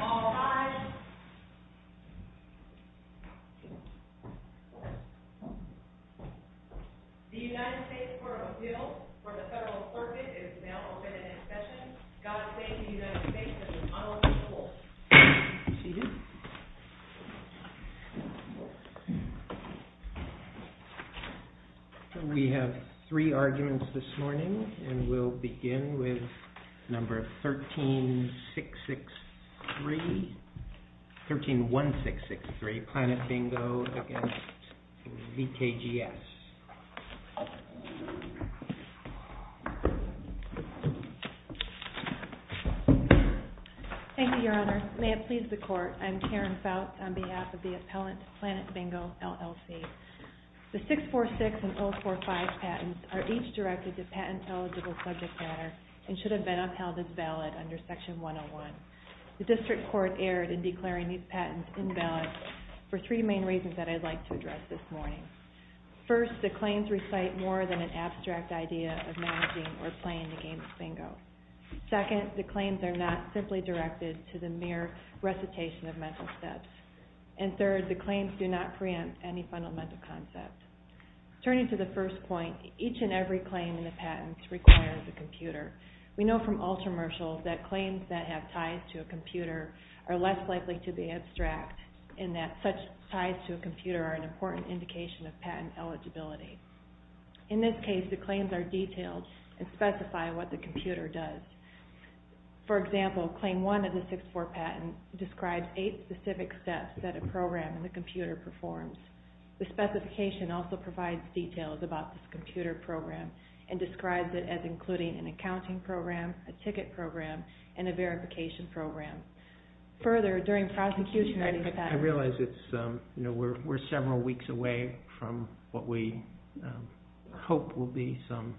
All rise. The United States Court of Appeals for the Federal Circuit is now open for discussion. God save the United States, this is Honorable Schultz. We have three arguments this morning and we'll begin with number 13-1663, Planet Bingo v. VKGS. Thank you, Your Honor. May it please the Court, I'm Karen Fouts on behalf of the appellant, Planet Bingo, LLC. The 646 and 045 patents are each directed to patent eligible subject matter and should have been upheld as valid under Section 101. The District Court erred in declaring these patents invalid for three main reasons that I'd like to address this morning. First, the claims recite more than an abstract idea of managing or playing the game of bingo. Second, the claims are not simply directed to the mere recitation of mental steps. And third, the claims do not preempt any fundamental concept. Turning to the first point, each and every claim in the patents requires a computer. We know from all commercials that claims that have ties to a computer are less likely to be abstract and that such ties to a computer are an important indication of patent eligibility. In this case, the claims are detailed and specify what the computer does. For example, Claim 1 of the 646 patent describes eight specific steps that a program in the computer performs. The specification also provides details about this computer program and describes it as including an accounting program, a ticket program, and a verification program. I realize we're several weeks away from what we hope will be some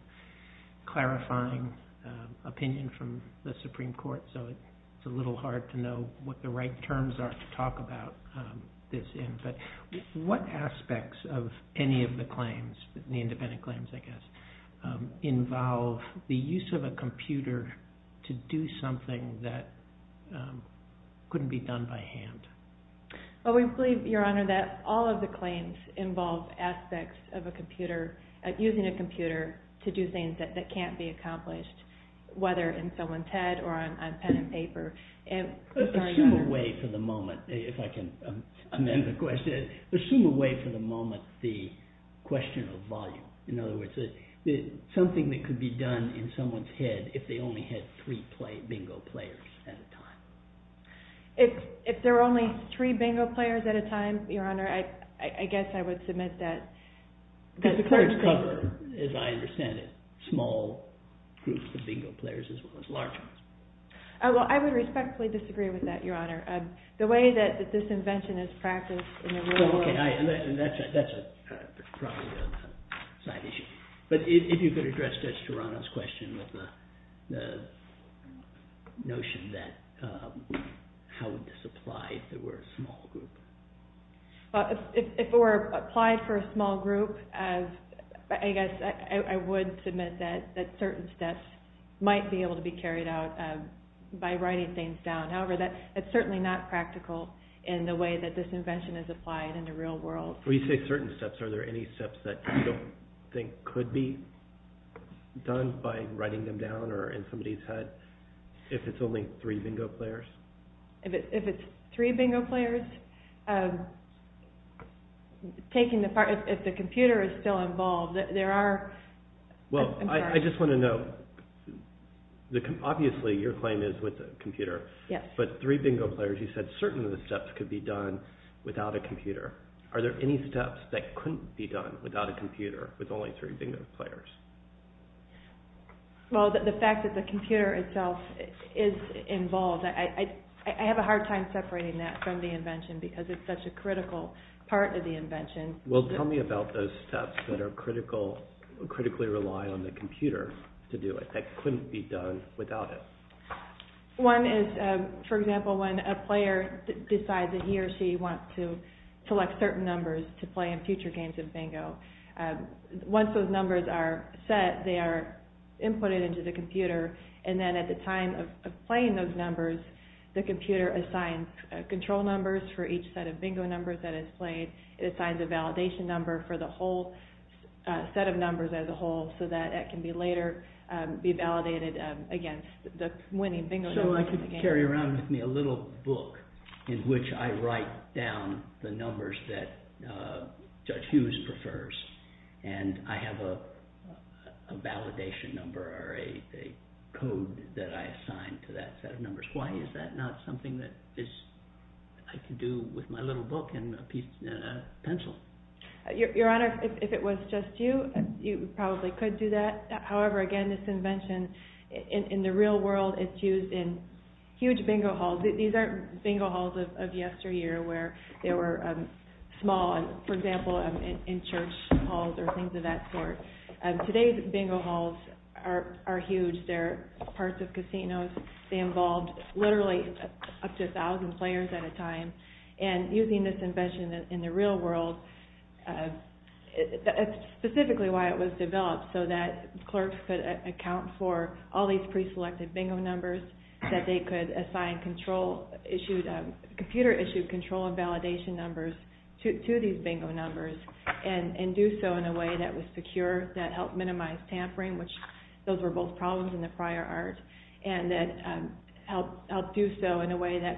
clarifying opinion from the Supreme Court, so it's a little hard to know what the right terms are to talk about this. What aspects of any of the claims, the independent claims I guess, involve the use of a computer to do something that couldn't be done by hand? Well, we believe, Your Honor, that all of the claims involve aspects of using a computer to do things that can't be accomplished, whether in someone's head or on pen and paper. Assume away for the moment, if I can amend the question, assume away for the moment the question of volume. In other words, something that could be done in someone's head if they only had three bingo players at a time. If there were only three bingo players at a time, Your Honor, I guess I would submit that... Because the claims cover, as I understand it, small groups of bingo players as well as large ones. Well, I would respectfully disagree with that, Your Honor. The way that this invention is practiced in the real world... That's probably a side issue. But if you could address Judge Toronto's question with the notion that how would this apply if there were a small group? If it were applied for a small group, I guess I would submit that certain steps might be able to be carried out by writing things down. However, that's certainly not practical in the way that this invention is applied in the real world. When you say certain steps, are there any steps that you don't think could be done by writing them down or in somebody's head if it's only three bingo players? If it's three bingo players? If the computer is still involved, there are... Well, I just want to note, obviously your claim is with the computer, but three bingo players, you said certain steps could be done without a computer. Are there any steps that couldn't be done without a computer with only three bingo players? Well, the fact that the computer itself is involved, I have a hard time separating that from the invention because it's such a critical part of the invention. Well, tell me about those steps that are critically reliant on the computer to do it, that couldn't be done without it. One is, for example, when a player decides that he or she wants to select certain numbers to play in future games of bingo. Once those numbers are set, they are inputted into the computer, and then at the time of playing those numbers, the computer assigns control numbers for each set of bingo numbers that is played. It assigns a validation number for the whole set of numbers as a whole so that it can later be validated against the winning bingo numbers. So I could carry around with me a little book in which I write down the numbers that Judge Hughes prefers, and I have a validation number or a code that I assign to that set of numbers. Why is that not something that I could do with my little book and a pencil? Your Honor, if it was just you, you probably could do that. However, again, this invention, in the real world, it's used in huge bingo halls. These are bingo halls of yesteryear where they were small, for example, in church halls or things of that sort. Today's bingo halls are huge. They are parts of casinos. They involve literally up to 1,000 players at a time. And using this invention in the real world, that's specifically why it was developed, so that clerks could account for all these preselected bingo numbers, that they could assign computer-issued control and validation numbers to these bingo numbers and do so in a way that was secure, that helped minimize tampering, which those were both problems in the prior art, and that helped do so in a way that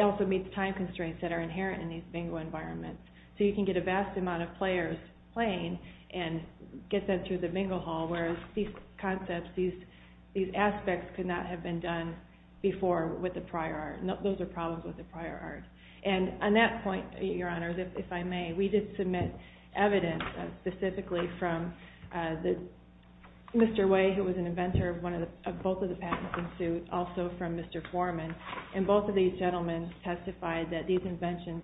also meets time constraints that are inherent in these bingo environments. So you can get a vast amount of players playing and get them through the bingo hall, whereas these concepts, these aspects could not have been done before with the prior art. Those are problems with the prior art. And on that point, Your Honor, if I may, we did submit evidence specifically from Mr. Way, who was an inventor of both of the patents in suit, also from Mr. Foreman, and both of these gentlemen testified that these inventions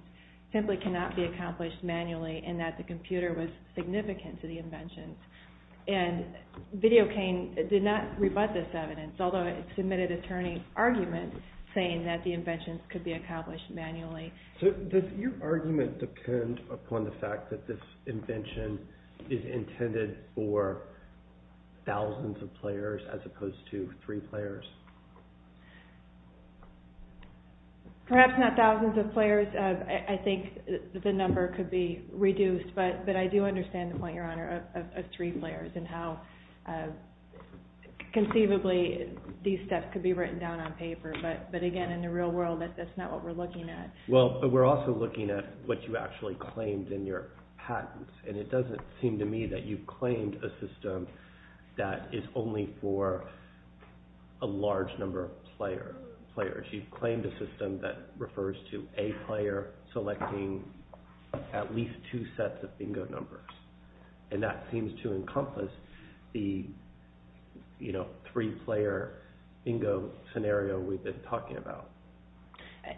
simply cannot be accomplished manually and that the computer was significant to the inventions. And VideoCain did not rebut this evidence, although it submitted attorney arguments saying that the inventions could be accomplished manually. So does your argument depend upon the fact that this invention is intended for thousands of players as opposed to three players? I think the number could be reduced, but I do understand the point, Your Honor, of three players and how conceivably these steps could be written down on paper. But again, in the real world, that's not what we're looking at. Well, we're also looking at what you actually claimed in your patents, and it doesn't seem to me that you've claimed a system that is only for a large number of players. You've claimed a system that refers to a player selecting at least two sets of bingo numbers, and that seems to encompass the three-player bingo scenario we've been talking about.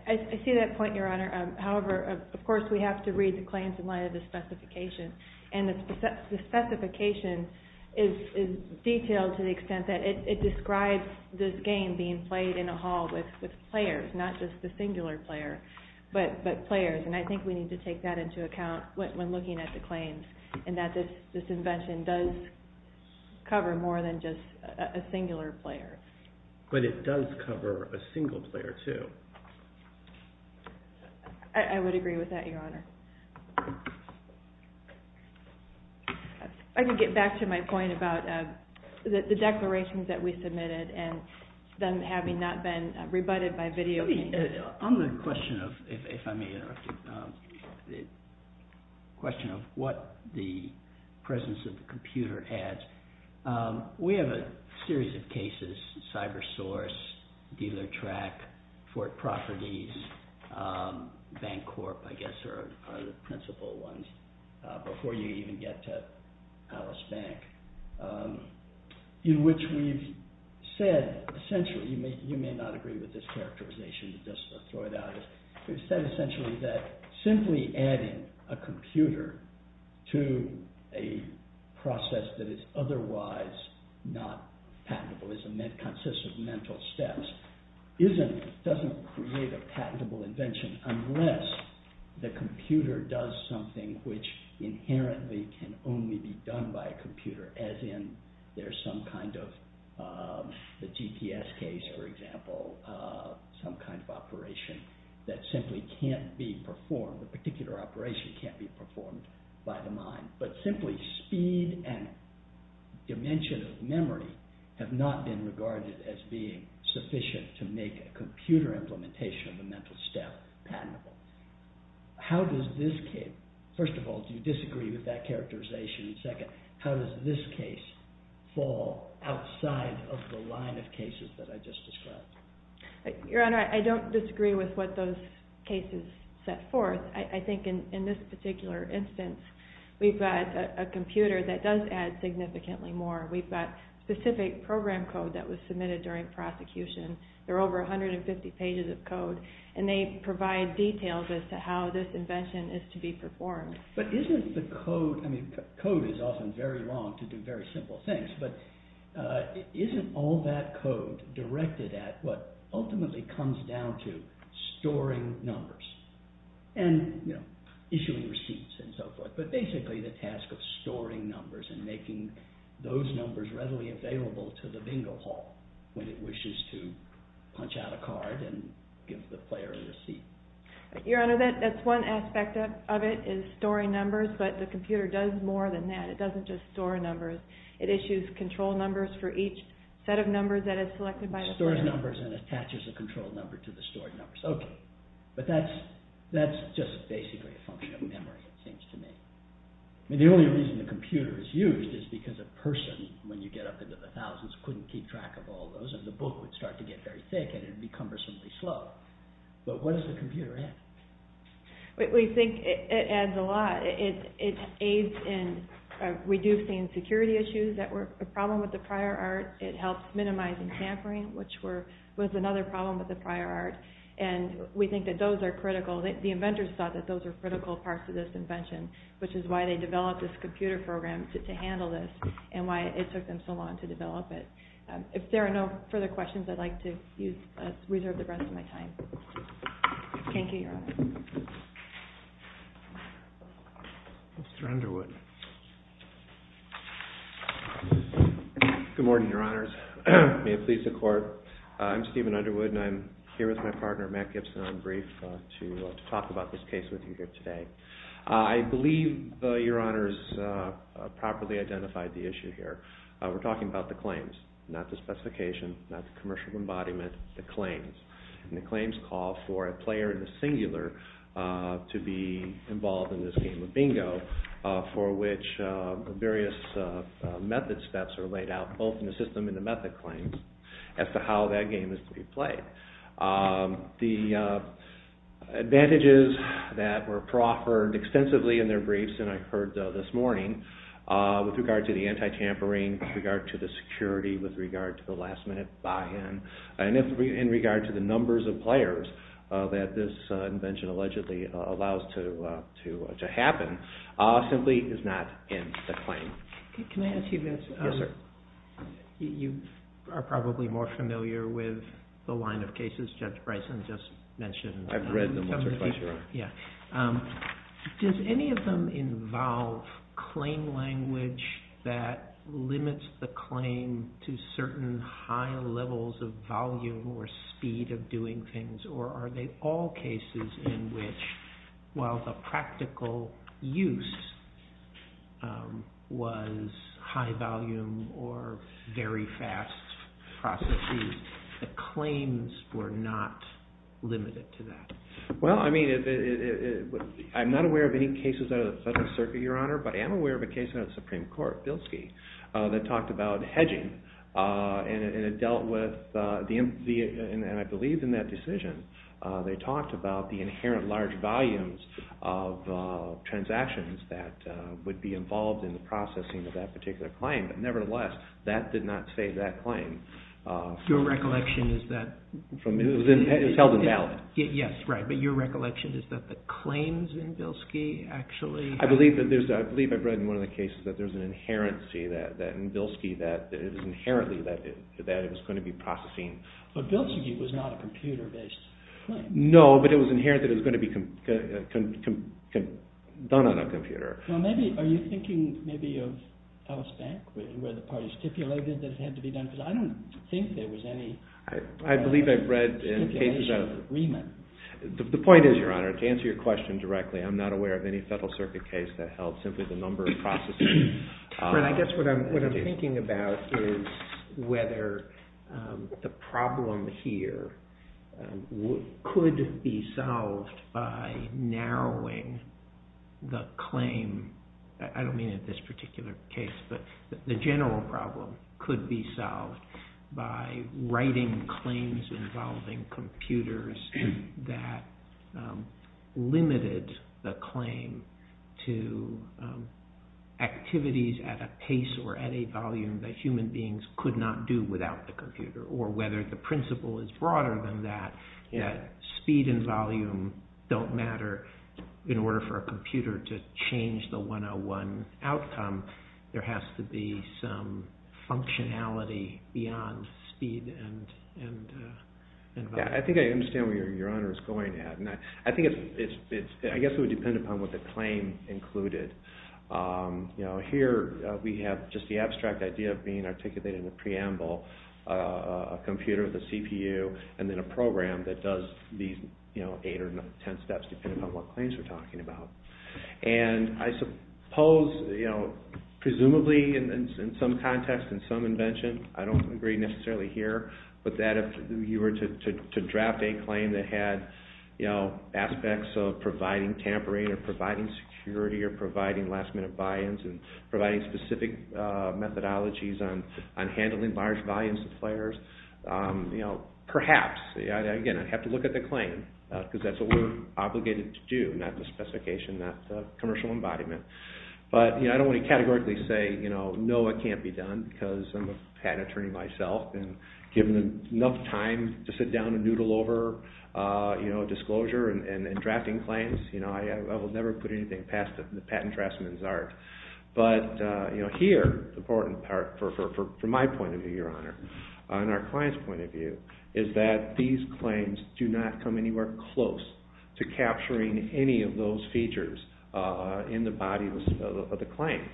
I see that point, Your Honor. However, of course, we have to read the claims in light of the specification, and the specification is detailed to the extent that it describes this game being played in a hall with players, not just the singular player, but players. And I think we need to take that into account when looking at the claims, and that this invention does cover more than just a singular player. But it does cover a single player, too. I would agree with that, Your Honor. I can get back to my point about the declarations that we submitted and them having not been rebutted by video. On the question of what the presence of the computer adds, we have a series of cases, CyberSource, DealerTrack, Fort Properties, Bancorp, I guess, are the principal ones, before you even get to Alice Bank, in which we've said, essentially, you may not agree with this characterization, we've said, essentially, that simply adding a computer to a process that is otherwise not patentable, that consists of mental steps, doesn't create a patentable invention unless the computer does something which inherently can only be done by a computer, as in there's some kind of, the GPS case, for example, some kind of operation that simply can't be performed, a particular operation can't be performed by the mind. But simply speed and dimension of memory have not been regarded as being sufficient to make a computer implementation of a mental step patentable. How does this case, first of all, do you disagree with that characterization, and second, how does this case fall outside of the line of cases that I just described? Your Honor, I don't disagree with what those cases set forth. I think in this particular instance, we've got a computer that does add significantly more. We've got specific program code that was submitted during prosecution. There are over 150 pages of code, and they provide details as to how this invention is to be performed. But isn't the code, I mean code is often very long to do very simple things, but isn't all that code directed at what ultimately comes down to storing numbers and issuing receipts and so forth, but basically the task of storing numbers and making those numbers readily available to the bingo hall when it wishes to punch out a card and give the player a receipt. Your Honor, that's one aspect of it is storing numbers, but the computer does more than that. It doesn't just store numbers. It issues control numbers for each set of numbers that is selected by the player. Stores numbers and attaches a control number to the stored numbers. Okay, but that's just basically a function of memory, it seems to me. The only reason the computer is used is because a person, when you get up into the thousands, couldn't keep track of all those, and the book would start to get very thick, and it would be cumbersomely slow. But what does the computer add? We think it adds a lot. It aids in reducing security issues that were a problem with the prior art. It helps minimizing tampering, which was another problem with the prior art, and we think that those are critical. The inventors thought that those were critical parts of this invention, which is why they developed this computer program to handle this, and why it took them so long to develop it. If there are no further questions, I'd like to reserve the rest of my time. Thank you, Your Honor. Mr. Underwood. Good morning, Your Honors. May it please the Court. I'm Stephen Underwood, and I'm here with my partner, Matt Gibson, on brief, to talk about this case with you here today. I believe Your Honors properly identified the issue here. We're talking about the claims, not the specification, not the commercial embodiment, the claims. And the claims call for a player in the singular to be involved in this game of bingo, for which various method steps are laid out, both in the system and the method claims, as to how that game is to be played. The advantages that were proffered extensively in their briefs, with regard to the anti-tampering, with regard to the security, with regard to the last-minute buy-in, and in regard to the numbers of players that this invention allegedly allows to happen, simply is not in the claim. Can I ask you this? Yes, sir. You are probably more familiar with the line of cases Judge Bryson just mentioned. I've read them once or twice, Your Honor. Does any of them involve claim language that limits the claim to certain high levels of volume or speed of doing things, or are they all cases in which, while the practical use was high volume or very fast processes, the claims were not limited to that? Well, I mean, I'm not aware of any cases out of the Federal Circuit, Your Honor, but I am aware of a case out of the Supreme Court, Bilski, that talked about hedging, and it dealt with, and I believe in that decision, they talked about the inherent large volumes of transactions that would be involved in the processing of that particular claim, but nevertheless, that did not save that claim. Your recollection is that... It was held in ballot. Yes, right, but your recollection is that the claims in Bilski actually... I believe I've read in one of the cases that there's an inherency in Bilski that it is inherently that it was going to be processing... But Bilski was not a computer-based claim. No, but it was inherent that it was going to be done on a computer. Well, maybe, are you thinking maybe of Ellis Bank, where the parties stipulated that it had to be done, because I don't think there was any... I believe I've read in cases of... The point is, Your Honor, to answer your question directly, I'm not aware of any Federal Circuit case that held simply the number of processes. But I guess what I'm thinking about is whether the problem here could be solved by narrowing the claim. I don't mean in this particular case, but the general problem could be solved by writing claims involving computers that limited the claim to activities at a pace or at a volume that human beings could not do without the computer, or whether the principle is broader than that. Speed and volume don't matter. In order for a computer to change the 101 outcome, there has to be some functionality beyond speed and volume. I think I understand where Your Honor is going at. I guess it would depend upon what the claim included. Here, we have just the abstract idea of being articulated in the preamble, a computer with a CPU and then a program that does these eight or ten steps depending on what claims we're talking about. I suppose, presumably in some context, in some invention, I don't agree necessarily here, but that if you were to draft a claim that had aspects of providing tampering or providing security or providing last-minute buy-ins and providing specific methodologies on handling large volumes of players, perhaps, again, I'd have to look at the claim because that's what we're obligated to do, not the specification, not the commercial embodiment. But I don't want to categorically say, no, it can't be done because I'm a patent attorney myself and given enough time to sit down and noodle over disclosure and drafting claims, I will never put anything past the patent draftsman's art. And our client's point of view is that these claims do not come anywhere close to capturing any of those features in the body of the claim.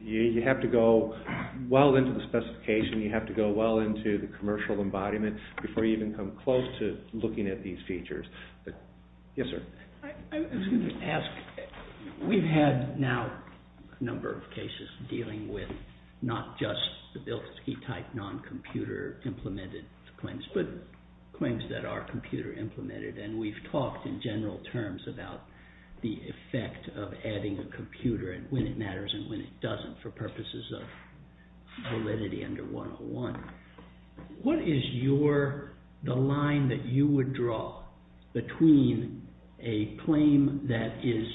You have to go well into the specification, you have to go well into the commercial embodiment before you even come close to looking at these features. Yes, sir. I was going to ask, we've had now a number of cases dealing with not just the Bilski-type non-computer implemented claims, but claims that are computer implemented, and we've talked in general terms about the effect of adding a computer when it matters and when it doesn't for purposes of validity under 101. What is the line that you would draw between a claim that is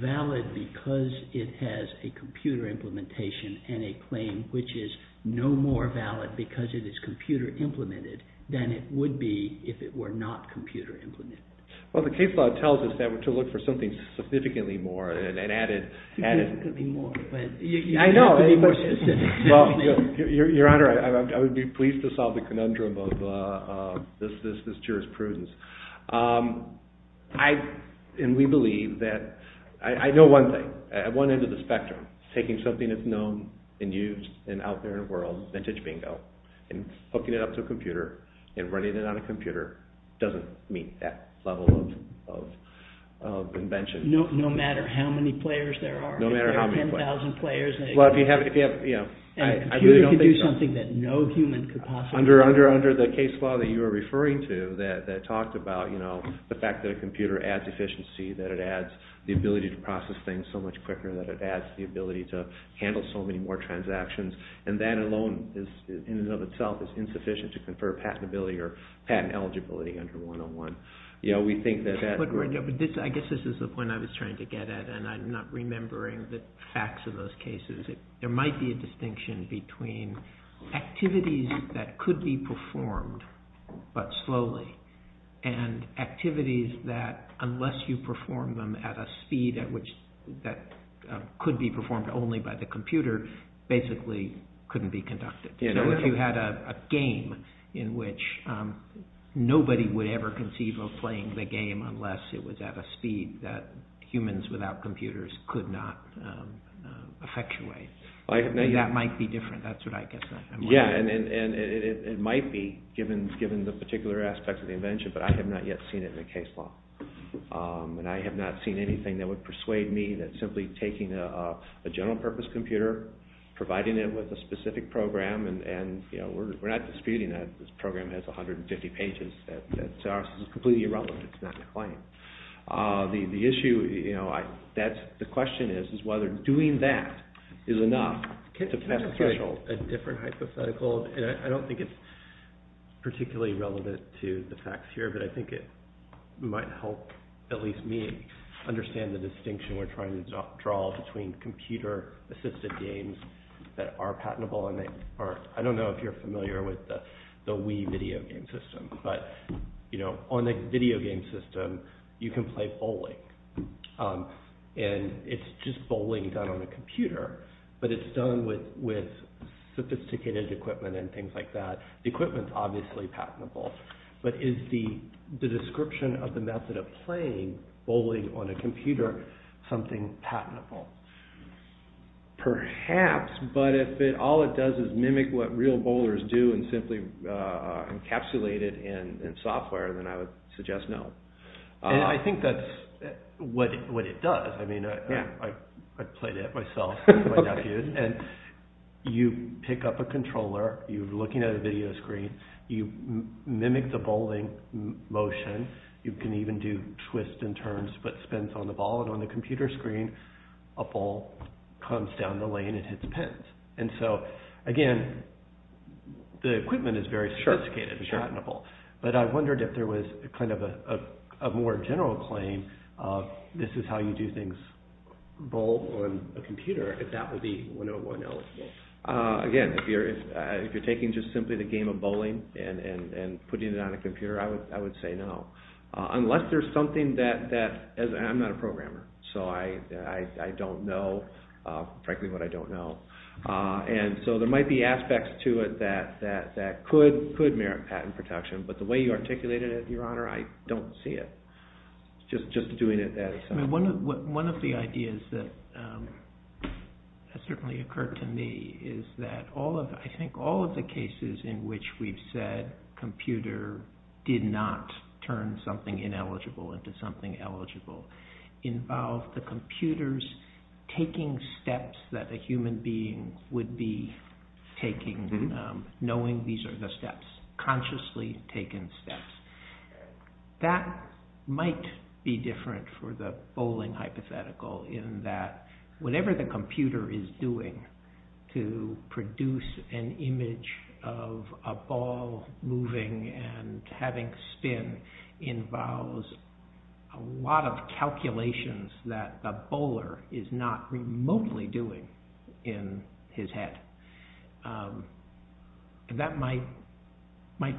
valid because it has a computer implementation and a claim which is no more valid because it is computer implemented than it would be if it were not computer implemented? Well, the case law tells us that we're to look for something significantly more and add it. Significantly more. I know. Your Honor, I would be pleased to solve the conundrum of this jurisprudence. I, and we believe that, I know one thing. At one end of the spectrum, taking something that's known and used and out there in the world, vintage bingo, and hooking it up to a computer and running it on a computer doesn't meet that level of invention. No matter how many players there are? No matter how many players. 10,000 players. Well, if you have, you know, I really don't think so. A computer could do something that no human could possibly do. Under the case law that you were referring to that talked about, you know, the fact that a computer adds efficiency, that it adds the ability to process things so much quicker, that it adds the ability to handle so many more transactions, and that alone in and of itself is insufficient to confer patentability or patent eligibility under 101. You know, we think that that would. I guess this is the point I was trying to get at, and I'm not remembering the facts of those cases. There might be a distinction between activities that could be performed but slowly and activities that, unless you perform them at a speed that could be performed only by the computer, basically couldn't be conducted. You know, if you had a game in which nobody would ever conceive of playing the game unless it was at a speed that humans without computers could not effectuate. That might be different. That's what I guess I'm wondering. Yeah, and it might be, given the particular aspects of the invention, but I have not yet seen it in a case law. And I have not seen anything that would persuade me that simply taking a general-purpose computer, providing it with a specific program, and, you know, we're not disputing that this program has 150 pages. That to us is completely irrelevant. It's not a claim. The issue, you know, the question is whether doing that is enough to pass the threshold. Can I make a different hypothetical? I don't think it's particularly relevant to the facts here, but I think it might help at least me understand the distinction we're trying to draw between computer-assisted games that are patentable, and I don't know if you're familiar with the Wii video game system, but, you know, on a video game system, you can play bowling, and it's just bowling done on a computer, but it's done with sophisticated equipment and things like that. The equipment's obviously patentable, but is the description of the method of playing bowling on a computer something patentable? Perhaps, but if all it does is mimic what real bowlers do and simply encapsulate it in software, then I would suggest no. And I think that's what it does. I mean, I played it myself with my nephew, and you pick up a controller, you're looking at a video screen, you mimic the bowling motion, you can even do twists and turns, but spins on the ball, and on the computer screen, a ball comes down the lane and hits pins. And so, again, the equipment is very sophisticated and patentable, but I wondered if there was kind of a more general claim of this is how you do things, bowl on a computer, if that would be 101 eligible. Again, if you're taking just simply the game of bowling and putting it on a computer, I would say no, unless there's something that, and I'm not a programmer, so I don't know, frankly, what I don't know. And so there might be aspects to it that could merit patent protection, but the way you articulated it, Your Honor, I don't see it. Just doing it that way. One of the ideas that certainly occurred to me is that I think all of the cases in which we've said computer did not turn something ineligible into something eligible involve the computers taking steps that a human being would be taking, knowing these are the steps, consciously taken steps. That might be different for the bowling hypothetical, in that whatever the computer is doing to produce an image of a ball moving and having spin involves a lot of calculations that the bowler is not remotely doing in his head. That might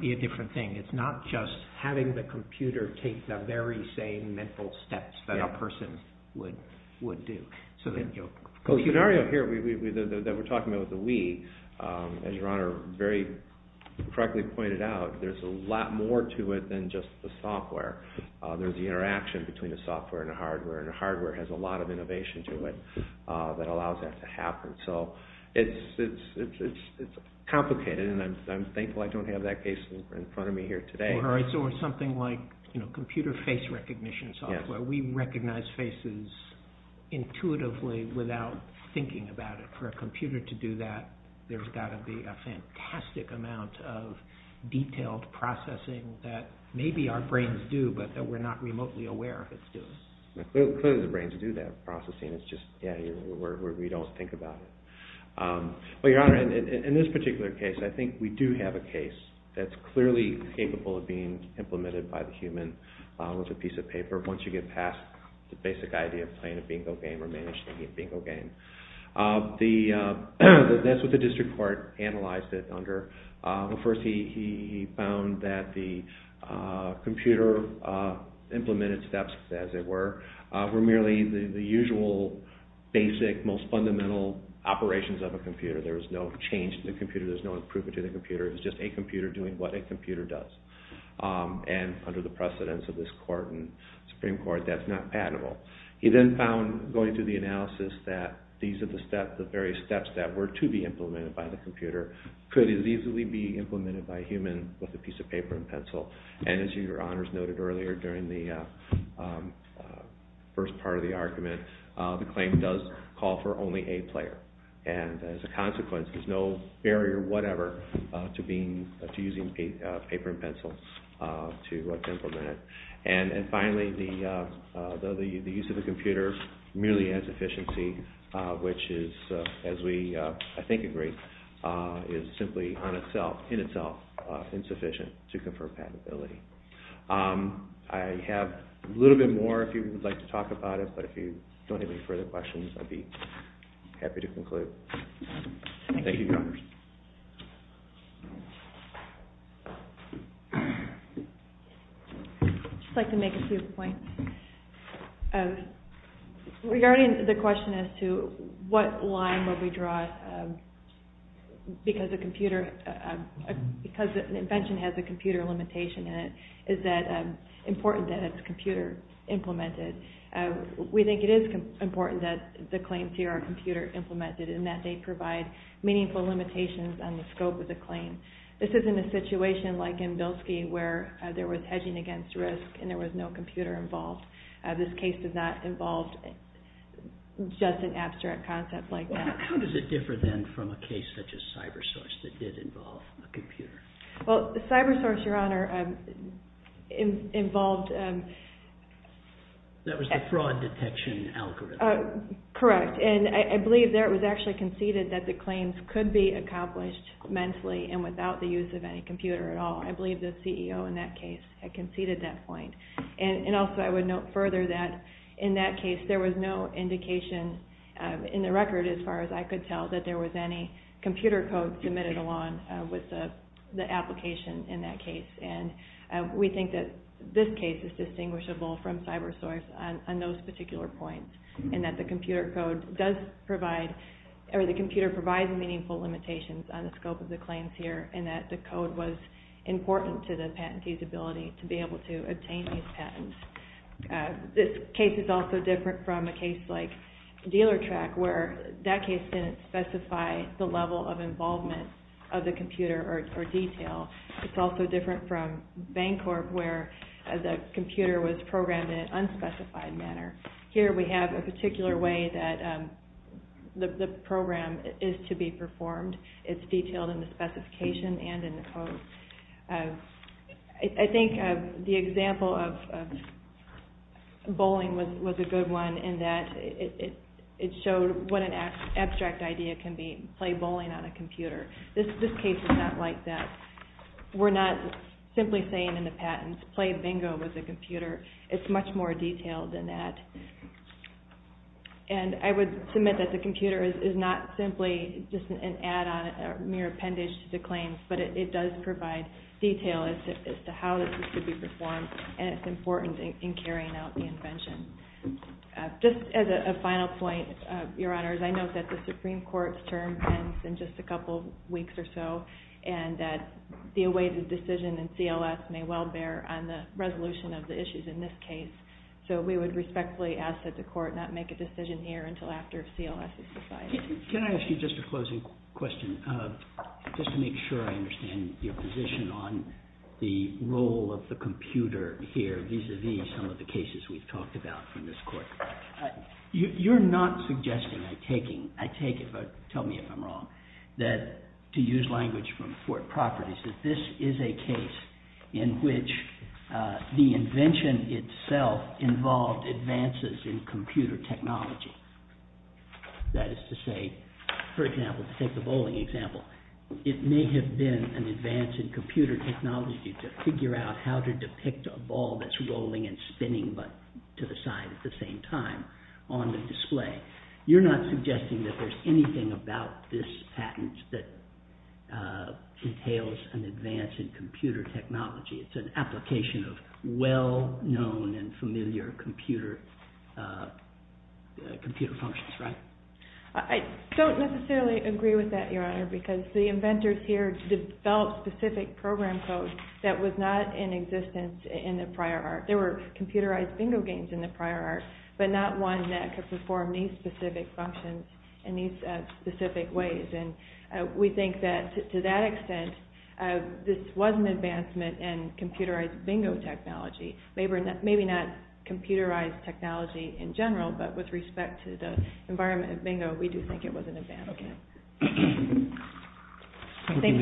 be a different thing. It's not just having the computer take the very same mental steps that a person would do. The scenario here that we're talking about with the Wii, as Your Honor very correctly pointed out, there's a lot more to it than just the software. There's the interaction between the software and the hardware, and the hardware has a lot of innovation to it that allows that to happen. So it's complicated, and I'm thankful I don't have that case in front of me here today. Or something like computer face recognition software. We recognize faces intuitively without thinking about it. For a computer to do that, there's got to be a fantastic amount of detailed processing that maybe our brains do, but that we're not remotely aware of it's doing. Clearly the brains do that processing, it's just we don't think about it. But Your Honor, in this particular case, I think we do have a case that's clearly capable of being implemented by the human with a piece of paper once you get past the basic idea of playing a bingo game or managing a bingo game. That's what the district court analyzed it under. First he found that the computer implemented steps, as it were, were merely the usual basic, most fundamental operations of a computer. There was no change to the computer. There was no improvement to the computer. It was just a computer doing what a computer does. And under the precedence of this court and Supreme Court, that's not patentable. He then found, going through the analysis, that these are the various steps that were to be implemented by the computer could as easily be implemented by a human with a piece of paper and pencil. And as Your Honors noted earlier during the first part of the argument, the claim does call for only a player. And as a consequence, there's no barrier, whatever, to using paper and pencil to implement it. And finally, the use of a computer merely adds efficiency, which is, as we I think agree, is simply in itself insufficient to confer patentability. I have a little bit more if you would like to talk about it, but if you don't have any further questions, I'd be happy to conclude. Thank you, Your Honors. I'd just like to make a few points. Regarding the question as to what line would we draw because an invention has a computer limitation in it, is that it's important that it's computer implemented. We think it is important that the claims here are computer implemented and that they provide meaningful limitations on the scope of the claim. This isn't a situation like in Bilski where there was hedging against risk and there was no computer involved. This case does not involve just an abstract concept like that. How does it differ then from a case such as CyberSource that did involve a computer? Well, CyberSource, Your Honor, involved... That was the fraud detection algorithm. Correct. And I believe there it was actually conceded that the claims could be accomplished mentally and without the use of any computer at all. I believe the CEO in that case had conceded that point. And also I would note further that in that case there was no indication in the record, as far as I could tell, that there was any computer code submitted along with the application in that case. And we think that this case is distinguishable from CyberSource on those particular points and that the computer provides meaningful limitations on the scope of the claims here and that the code was important to the patentee's ability to be able to obtain these patents. This case is also different from a case like DealerTrack where that case didn't specify the level of involvement of the computer or detail. It's also different from Bancorp where the computer was programmed in an unspecified manner. Here we have a particular way that the program is to be performed. It's detailed in the specification and in the code. I think the example of bowling was a good one in that it showed what an abstract idea can be, play bowling on a computer. This case is not like that. We're not simply saying in the patents, play bingo with a computer. It's much more detailed than that. And I would submit that the computer is not simply just an add-on, not a mere appendage to the claims, but it does provide detail as to how this could be performed and it's important in carrying out the invention. Just as a final point, Your Honors, I note that the Supreme Court's term ends in just a couple weeks or so and that the awaited decision in CLS may well bear on the resolution of the issues in this case. So we would respectfully ask that the Court not make a decision here until after CLS is decided. Can I ask you just a closing question? Just to make sure I understand your position on the role of the computer here, vis-a-vis some of the cases we've talked about from this Court. You're not suggesting, I take it, but tell me if I'm wrong, that to use language from Fort Properties, that this is a case in which the invention itself involved advances in computer technology. That is to say, for example, to take the bowling example, it may have been an advance in computer technology to figure out how to depict a ball that's rolling and spinning but to the side at the same time on the display. You're not suggesting that there's anything about this patent that entails an advance in computer technology. It's an application of well-known and familiar computer functions, right? I don't necessarily agree with that, Your Honor, because the inventors here developed specific program codes that were not in existence in the prior art. There were computerized bingo games in the prior art but not one that could perform these specific functions in these specific ways. And we think that to that extent this was an advancement in computerized bingo technology. Maybe not computerized technology in general but with respect to the environment of bingo, we do think it was an advancement. Thank you, Your Honor.